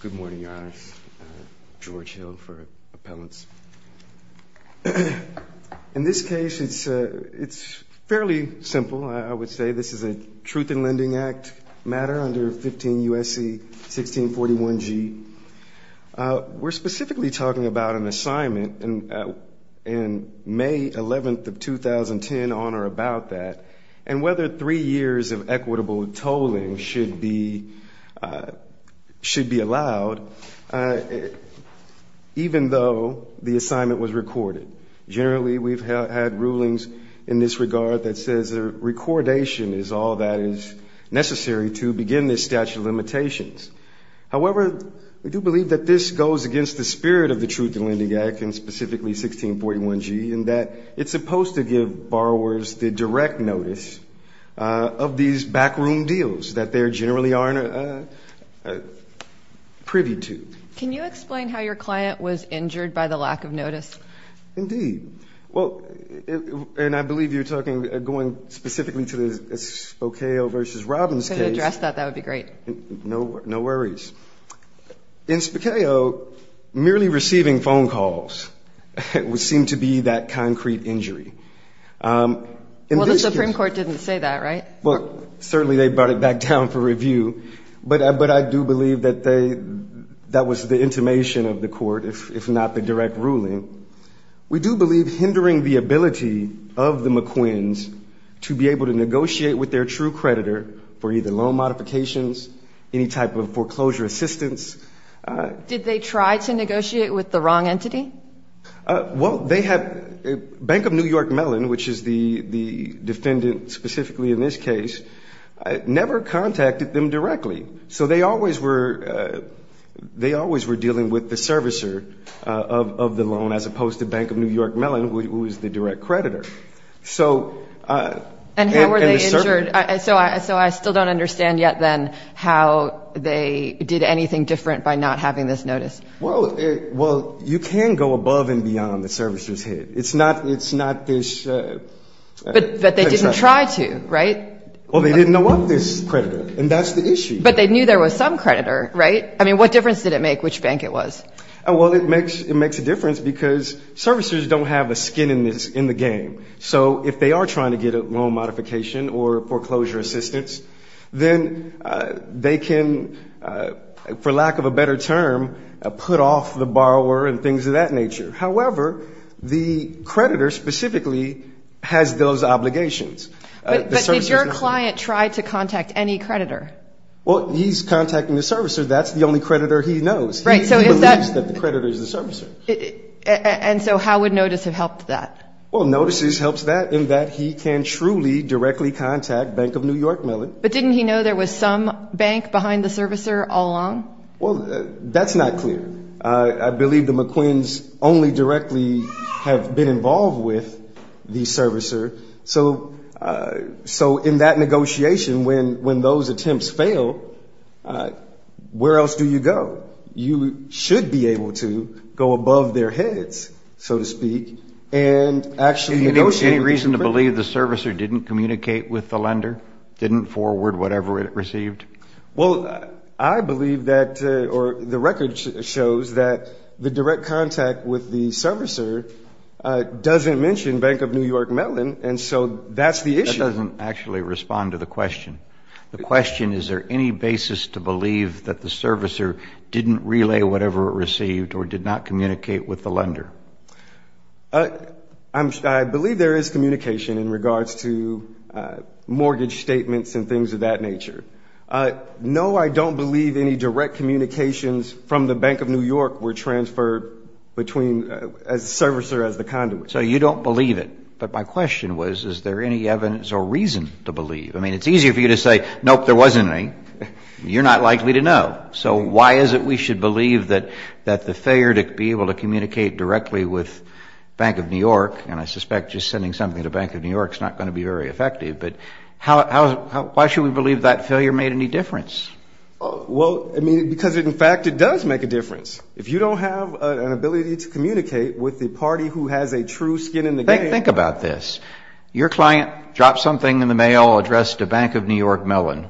Good morning, Your Honor. George Hill for appellants. In this case, it's fairly simple, I would say. This is a Truth in Lending Act matter under 15 U.S.C. 1641 G. We're specifically talking about an assignment in May 11th of 2010, on or about that, and whether three years of equitable tolling should be allowed, even though the assignment was recorded. Generally, we've had rulings in this regard that says a recordation is all that is necessary to begin this statute of limitations. However, we do believe that this goes against the spirit of the Truth in Lending Act, and specifically 1641 G, in that it's supposed to give borrowers the direct notice of these backroom deals that they generally are privy to. Can you explain how your client was injured by the lack of notice? Indeed. Well, and I believe you're talking, going specifically to the Spokeo v. Robbins case. If you could address that, that would be great. No worries. In Spokeo, merely receiving phone calls seemed to be that concrete injury. Well, the Supreme Court didn't say that, right? Well, certainly they brought it back down for review, but I do believe that they, that was the intimation of the court, if not the direct ruling. We do believe hindering the ability of the McQuins to be able to negotiate with their true creditor for either loan modifications, any type of foreclosure assistance. Did they try to negotiate with the wrong entity? Well, they had Bank of New York Mellon, which is the defendant specifically in this case, never contacted them directly. So they always were dealing with the servicer of the loan, as opposed to Bank of New York Mellon, who is the direct creditor. And how were they injured? So I still don't understand yet, then, how they did anything different by not having this notice. Well, you can go above and beyond the servicer's hit. It's not this. But they didn't try to, right? Well, they didn't know of this creditor, and that's the issue. But they knew there was some creditor, right? I mean, what difference did it make which bank it was? Well, it makes a difference because servicers don't have a skin in the game. So if they are trying to get a loan modification or a foreclosure assistance, then they can, for lack of a better term, put off the borrower and things of that nature. However, the creditor specifically has those obligations. But did your client try to contact any creditor? Well, he's contacting the servicer. That's the only creditor he knows. He believes that the creditor is the servicer. And so how would notice have helped that? Well, notices helps that in that he can truly directly contact Bank of New York Mellon. But didn't he know there was some bank behind the servicer all along? Well, that's not clear. I believe the McQuins only directly have been involved with the servicer. So in that negotiation, when those attempts fail, where else do you go? You should be able to go above their heads, so to speak, and actually negotiate. Is there any reason to believe the servicer didn't communicate with the lender, didn't forward whatever it received? Well, I believe that the record shows that the direct contact with the servicer doesn't mention Bank of New York Mellon, and so that's the issue. That doesn't actually respond to the question. The question, is there any basis to believe that the servicer didn't relay whatever it received or did not communicate with the lender? I believe there is communication in regards to mortgage statements and things of that nature. No, I don't believe any direct communications from the Bank of New York were transferred between a servicer as the conduit. So you don't believe it. But my question was, is there any evidence or reason to believe? I mean, it's easier for you to say, nope, there wasn't any. You're not likely to know. So why is it we should believe that the failure to be able to communicate directly with Bank of New York, and I suspect just sending something to Bank of New York is not going to be very effective, but why should we believe that failure made any difference? Well, I mean, because in fact it does make a difference. If you don't have an ability to communicate with the party who has a true skin in the game. Think about this. Your client dropped something in the mail addressed to Bank of New York Mellon.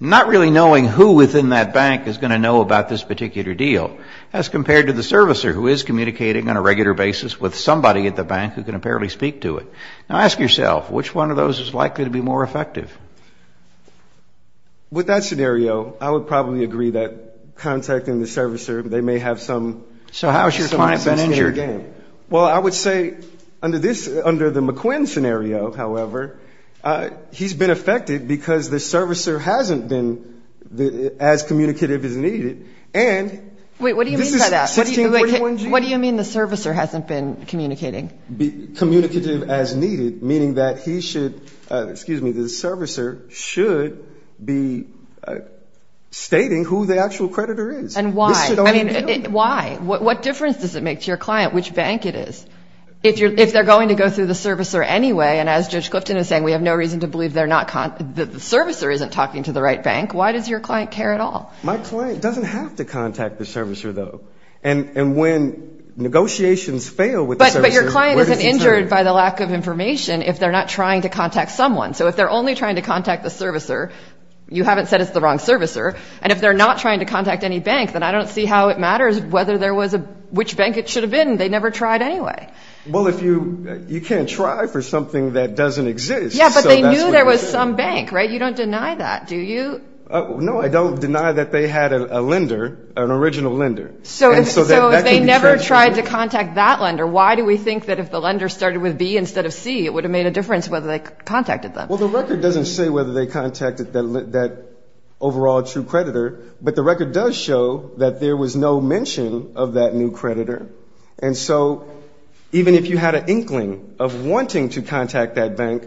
Not really knowing who within that bank is going to know about this particular deal as compared to the servicer who is communicating on a regular basis with somebody at the bank who can apparently speak to it. Now ask yourself, which one of those is likely to be more effective? With that scenario, I would probably agree that contacting the servicer, they may have some sense in your game. So how has your client been injured? Well, I would say under the McQuinn scenario, however, he's been affected because the servicer hasn't been as communicative as needed. Wait, what do you mean by that? What do you mean the servicer hasn't been communicating? Communicative as needed, meaning that he should, excuse me, the servicer should be stating who the actual creditor is. And why? Why? What difference does it make to your client which bank it is? If they're going to go through the servicer anyway, and as Judge Clifton is saying, we have no reason to believe the servicer isn't talking to the right bank, why does your client care at all? My client doesn't have to contact the servicer, though. And when negotiations fail with the servicer, where does it turn? But your client isn't injured by the lack of information if they're not trying to contact someone. So if they're only trying to contact the servicer, you haven't said it's the wrong servicer. And if they're not trying to contact any bank, then I don't see how it matters whether there was a, which bank it should have been. They never tried anyway. Well, if you, you can't try for something that doesn't exist. Yeah, but they knew there was some bank, right? You don't deny that, do you? No, I don't deny that they had a lender, an original lender. So if they never tried to contact that lender, why do we think that if the lender started with B instead of C, it would have made a difference whether they contacted them? Well, the record doesn't say whether they contacted that overall true creditor, but the record does show that there was no mention of that new creditor. And so even if you had an inkling of wanting to contact that bank,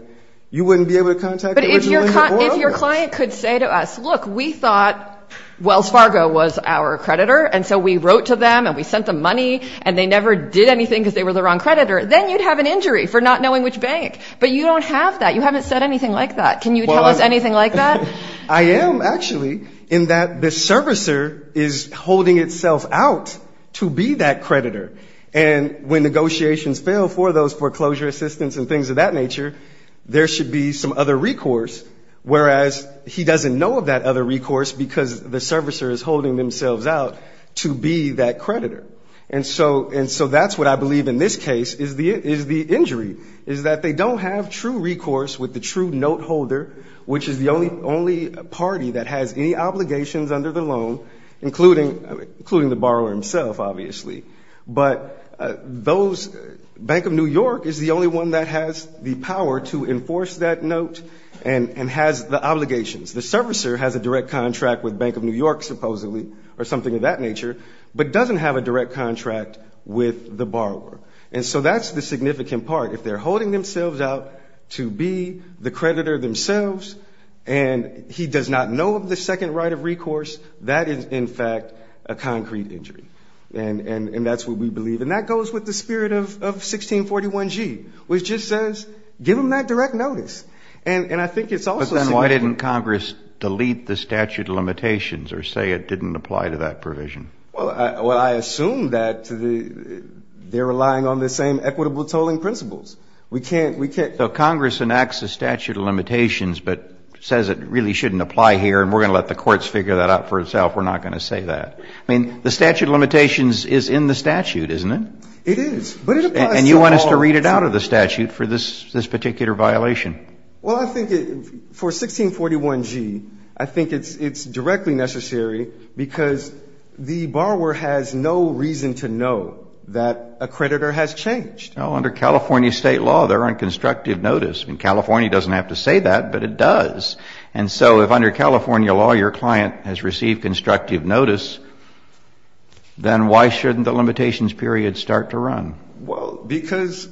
you wouldn't be able to contact the original lender. But if your client could say to us, look, we thought Wells Fargo was our creditor, and so we wrote to them and we sent them money and they never did anything because they were the wrong creditor, then you'd have an injury for not knowing which bank. But you don't have that. You haven't said anything like that. Can you tell us anything like that? I am, actually, in that the servicer is holding itself out to be that creditor. And when negotiations fail for those foreclosure assistance and things of that nature, there should be some other recourse, whereas he doesn't know of that other recourse because the servicer is holding themselves out to be that creditor. And so that's what I believe in this case is the injury, is that they don't have true recourse with the true note holder, which is the only party that has any obligations under the loan, including the borrower himself, obviously. But those, Bank of New York is the only one that has the power to enforce that note and has the obligations. The servicer has a direct contract with Bank of New York, supposedly, or something of that nature, but doesn't have a direct contract with the borrower. And so that's the significant part. If they're holding themselves out to be the creditor themselves and he does not know of the second right of recourse, that is, in fact, a concrete injury. And that's what we believe. And that goes with the spirit of 1641G, which just says give them that direct notice. And I think it's also significant. But then why didn't Congress delete the statute of limitations or say it didn't apply to that provision? Well, I assume that they're relying on the same equitable tolling principles. We can't ‑‑ So Congress enacts a statute of limitations but says it really shouldn't apply here and we're going to let the courts figure that out for itself. We're not going to say that. I mean, the statute of limitations is in the statute, isn't it? It is. And you want us to read it out of the statute for this particular violation. Well, I think for 1641G, I think it's directly necessary because the borrower has no reason to know that a creditor has changed. Well, under California State law, there aren't constructive notice. I mean, California doesn't have to say that, but it does. And so if under California law your client has received constructive notice, then why shouldn't the limitations period start to run? Well, because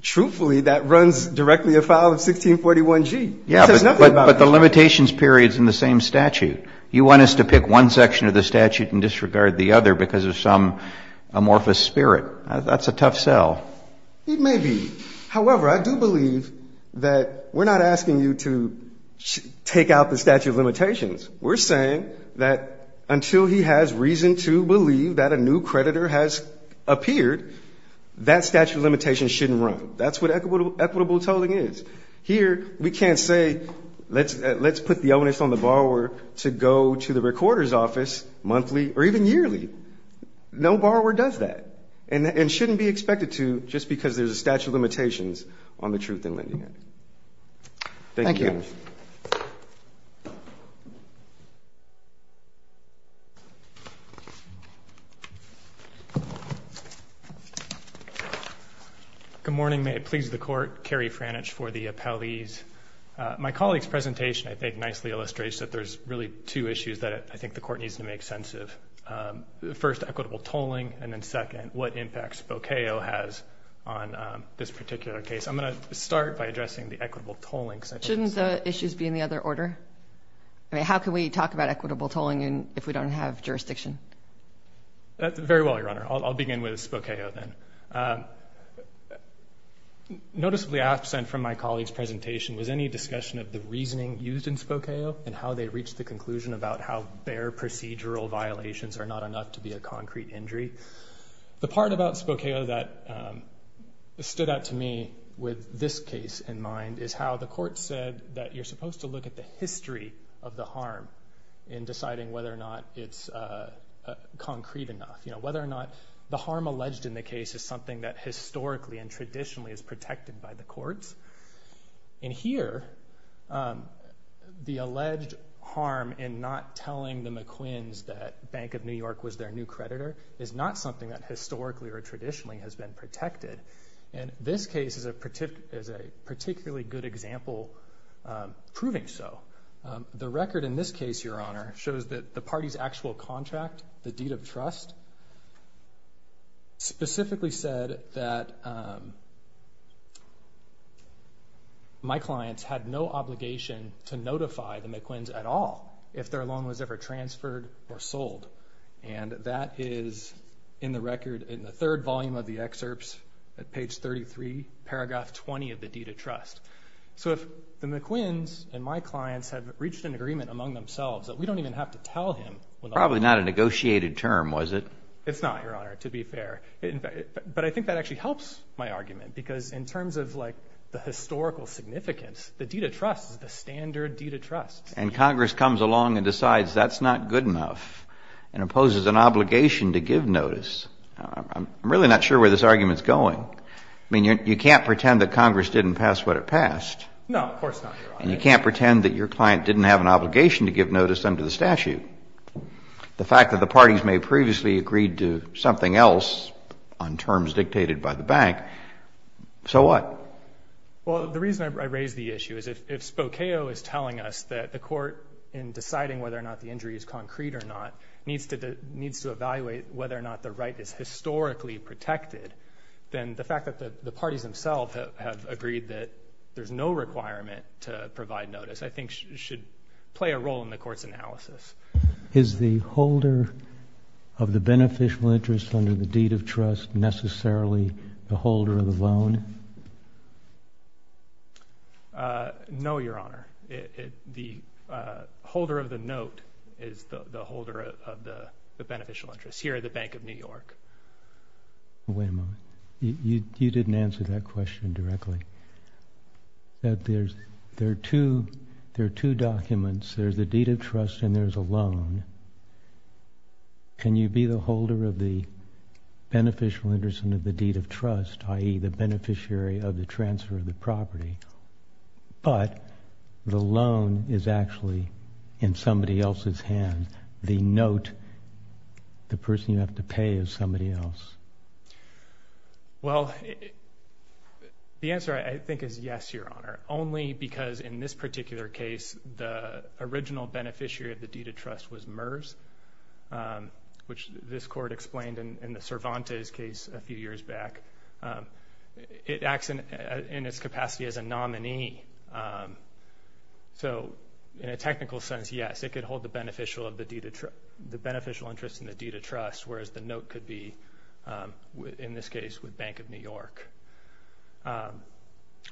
truthfully that runs directly afoul of 1641G. It says nothing about that. Yeah, but the limitations period is in the same statute. You want us to pick one section of the statute and disregard the other because of some amorphous spirit. That's a tough sell. It may be. However, I do believe that we're not asking you to take out the statute of limitations. We're saying that until he has reason to believe that a new creditor has appeared, that statute of limitations shouldn't run. That's what equitable tolling is. Here we can't say let's put the onus on the borrower to go to the recorder's office monthly or even yearly. No borrower does that and shouldn't be expected to just because there's a statute of limitations on the truth in lending. Thank you. Good morning. May it please the court. Kerry Frannich for the appellees. My colleague's presentation, I think, nicely illustrates that there's really two issues that I think the court needs to make sense of. First, equitable tolling, and then second, what impact Spokeo has on this particular case. I'm going to start by addressing the equitable tolling. Shouldn't the issues be in the other order? I mean, how can we talk about equitable tolling if we don't have jurisdiction? Very well, Your Honor. I'll begin with Spokeo then. Noticeably absent from my colleague's presentation was any discussion of the reasoning used in Spokeo and how they reached the conclusion about how bare procedural violations are not enough to be a concrete injury. The part about Spokeo that stood out to me with this case in mind is how the court said that you're supposed to look at the history of the harm in deciding whether or not it's concrete enough. Whether or not the harm alleged in the case is something that historically and traditionally is protected by the courts. And here, the alleged harm in not telling the McQuins that Bank of New York was their new creditor is not something that historically or traditionally has been protected. And this case is a particularly good example proving so. The record in this case, Your Honor, shows that the party's actual contract, the deed of trust, specifically said that my clients had no obligation to notify the McQuins at all if their loan was ever transferred or sold. And that is in the record in the third volume of the excerpts at page 33, paragraph 20 of the deed of trust. So if the McQuins and my clients have reached an agreement among themselves that we don't even have to tell him Probably not a negotiated term, was it? It's not, Your Honor, to be fair. But I think that actually helps my argument because in terms of, like, the historical significance, the deed of trust is the standard deed of trust. And Congress comes along and decides that's not good enough and imposes an obligation to give notice. I'm really not sure where this argument is going. I mean, you can't pretend that Congress didn't pass what it passed. No, of course not, Your Honor. And you can't pretend that your client didn't have an obligation to give notice under the statute. The fact that the parties may have previously agreed to something else on terms dictated by the bank, so what? Well, the reason I raise the issue is if Spokeo is telling us that the court, in deciding whether or not the injury is concrete or not, needs to evaluate whether or not the right is historically protected, then the fact that the parties themselves have agreed that there's no requirement to provide notice, I think should play a role in the court's analysis. Is the holder of the beneficial interest under the deed of trust necessarily the holder of the loan? No, Your Honor. The holder of the note is the holder of the beneficial interest here at the Bank of New York. Wait a moment. You didn't answer that question directly. There are two documents. There's the deed of trust and there's a loan. Can you be the holder of the beneficial interest under the deed of trust, i.e., the beneficiary of the transfer of the property, but the loan is actually in somebody else's hand? The note, the person you have to pay is somebody else? Well, the answer, I think, is yes, Your Honor, only because in this particular case the original beneficiary of the deed of trust was MERS, which this court explained in the Cervantes case a few years back. It acts in its capacity as a nominee. So in a technical sense, yes, it could hold the beneficial interest in the deed of trust, whereas the note could be, in this case, with Bank of New York.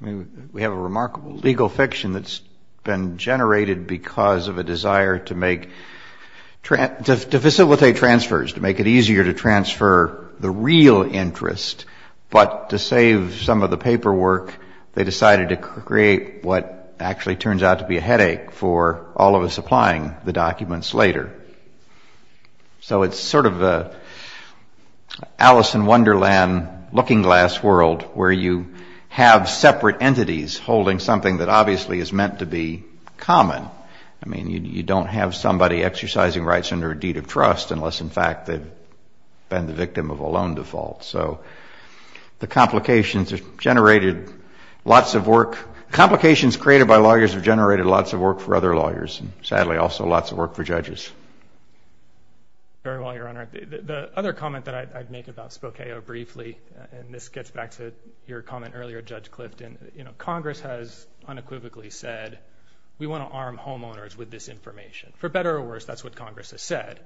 We have a remarkable legal fiction that's been generated because of a desire to facilitate transfers, to make it easier to transfer the real interest, but to save some of the paperwork, they decided to create what actually turns out to be a headache for all of us applying the documents later. So it's sort of an Alice in Wonderland looking glass world where you have separate entities holding something that obviously is meant to be common. I mean, you don't have somebody exercising rights under a deed of trust unless, in fact, they've been the victim of a loan default. So the complications have generated lots of work. Complications created by lawyers have generated lots of work for other lawyers, and sadly also lots of work for judges. Very well, Your Honor. The other comment that I'd make about Spokeo briefly, and this gets back to your comment earlier, Judge Clifton, Congress has unequivocally said we want to arm homeowners with this information. For better or worse, that's what Congress has said.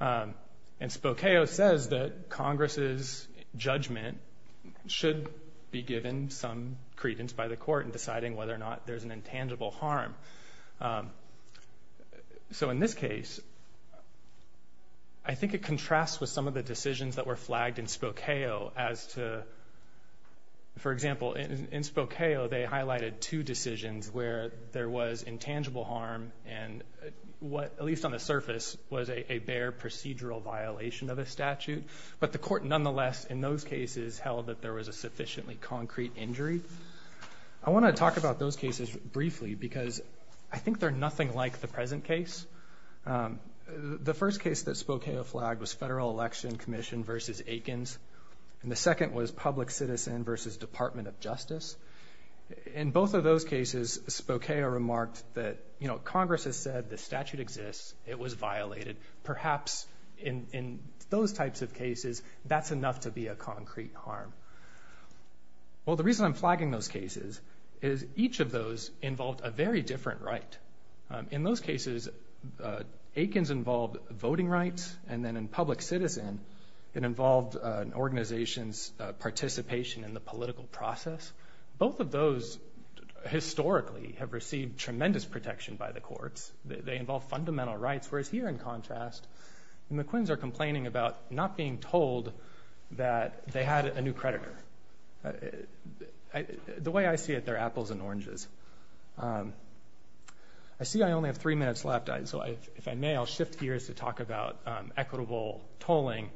And Spokeo says that Congress's judgment should be given some credence by the court in deciding whether or not there's an intangible harm. So in this case, I think it contrasts with some of the decisions that were flagged in Spokeo as to, for example, in Spokeo they highlighted two decisions where there was intangible harm and what, at least on the surface, was a bare procedural violation of a statute. But the court nonetheless, in those cases, held that there was a sufficiently concrete injury. I want to talk about those cases briefly because I think they're nothing like the present case. The first case that Spokeo flagged was Federal Election Commission v. Aikens, and the second was Public Citizen v. Department of Justice. In both of those cases, Spokeo remarked that Congress has said the statute exists, it was violated. Perhaps in those types of cases, that's enough to be a concrete harm. Well, the reason I'm flagging those cases is each of those involved a very different right. In those cases, Aikens involved voting rights, and then in Public Citizen, it involved an organization's participation in the political process. Both of those, historically, have received tremendous protection by the courts. They involve fundamental rights, whereas here, in contrast, the McQuins are complaining about not being told that they had a new creditor. The way I see it, they're apples and oranges. I see I only have three minutes left, so if I may, I'll shift gears to talk about equitable tolling.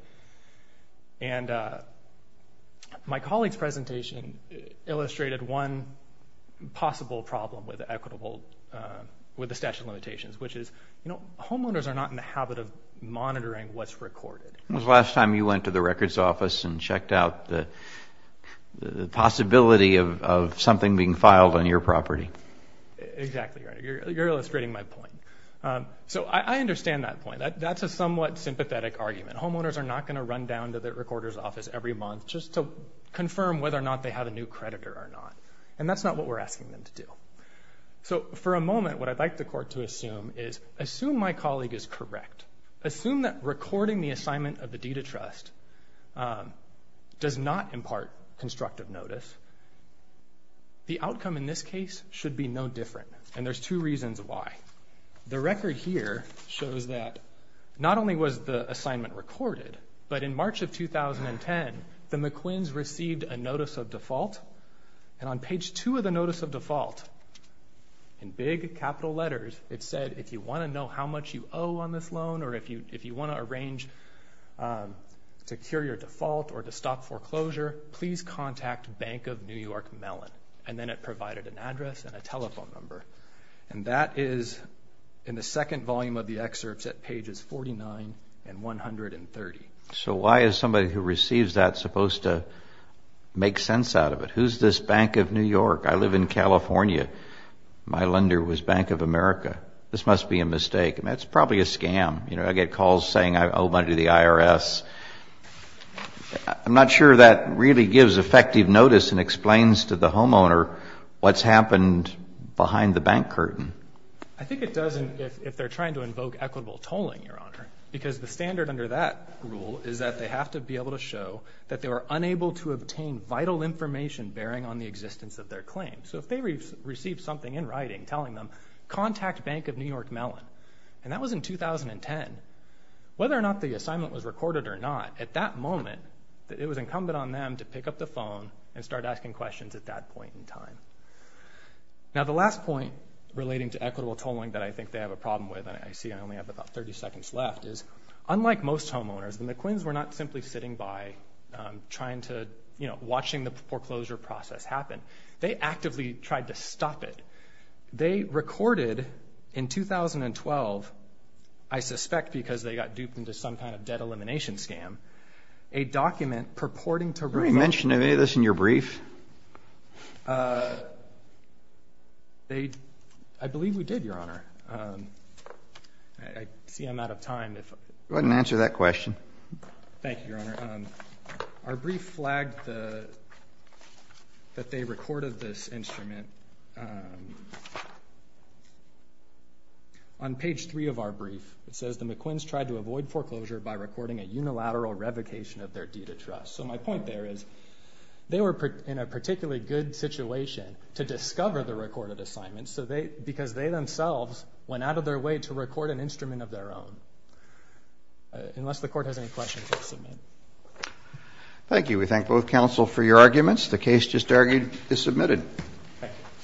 My colleague's presentation illustrated one possible problem with the statute of limitations, which is homeowners are not in the habit of monitoring what's recorded. When was the last time you went to the records office and checked out the possibility of something being filed on your property? Exactly right. You're illustrating my point. So, I understand that point. That's a somewhat sympathetic argument. Homeowners are not going to run down to the recorders office every month just to confirm whether or not they have a new creditor or not, and that's not what we're asking them to do. So, for a moment, what I'd like the court to assume is, assume my colleague is correct. Assume that recording the assignment of the deed of trust does not impart constructive notice. The outcome in this case should be no different, and there's two reasons why. The record here shows that not only was the assignment recorded, but in March of 2010, the McQuins received a notice of default, and on page two of the notice of default, in big capital letters, it said if you want to know how much you owe on this loan, or if you want to arrange to cure your default or to stop foreclosure, please contact Bank of New York Mellon, and then it provided an address and a telephone number. And that is in the second volume of the excerpts at pages 49 and 130. So, why is somebody who receives that supposed to make sense out of it? Who's this Bank of New York? I live in California. My lender was Bank of America. This must be a mistake. I mean, it's probably a scam. You know, I get calls saying I owe money to the IRS. I'm not sure that really gives effective notice and explains to the homeowner what's happened behind the bank curtain. I think it does if they're trying to invoke equitable tolling, Your Honor, because the standard under that rule is that they have to be able to show that they were unable to obtain vital information bearing on the existence of their claim. So if they received something in writing telling them, contact Bank of New York Mellon, and that was in 2010, whether or not the assignment was recorded or not, at that moment, it was incumbent on them to pick up the phone and start asking questions at that point in time. Now, the last point relating to equitable tolling that I think they have a problem with, and I see I only have about 30 seconds left, is unlike most homeowners, the McQuins were not simply sitting by trying to, you know, watching the foreclosure process happen. They actively tried to stop it. They recorded in 2012, I suspect because they got duped into some kind of debt elimination scam, a document purporting to reflect... Did we mention any of this in your brief? I believe we did, Your Honor. I see I'm out of time. Go ahead and answer that question. Thank you, Your Honor. Our brief flagged that they recorded this instrument. On page 3 of our brief, it says, the McQuins tried to avoid foreclosure by recording a unilateral revocation of their deed of trust. So my point there is they were in a particularly good situation to discover the recorded assignment because they themselves went out of their way to record an instrument of their own. Unless the Court has any questions, I'll submit. Thank you. We thank both counsel for your arguments. The case just argued is submitted.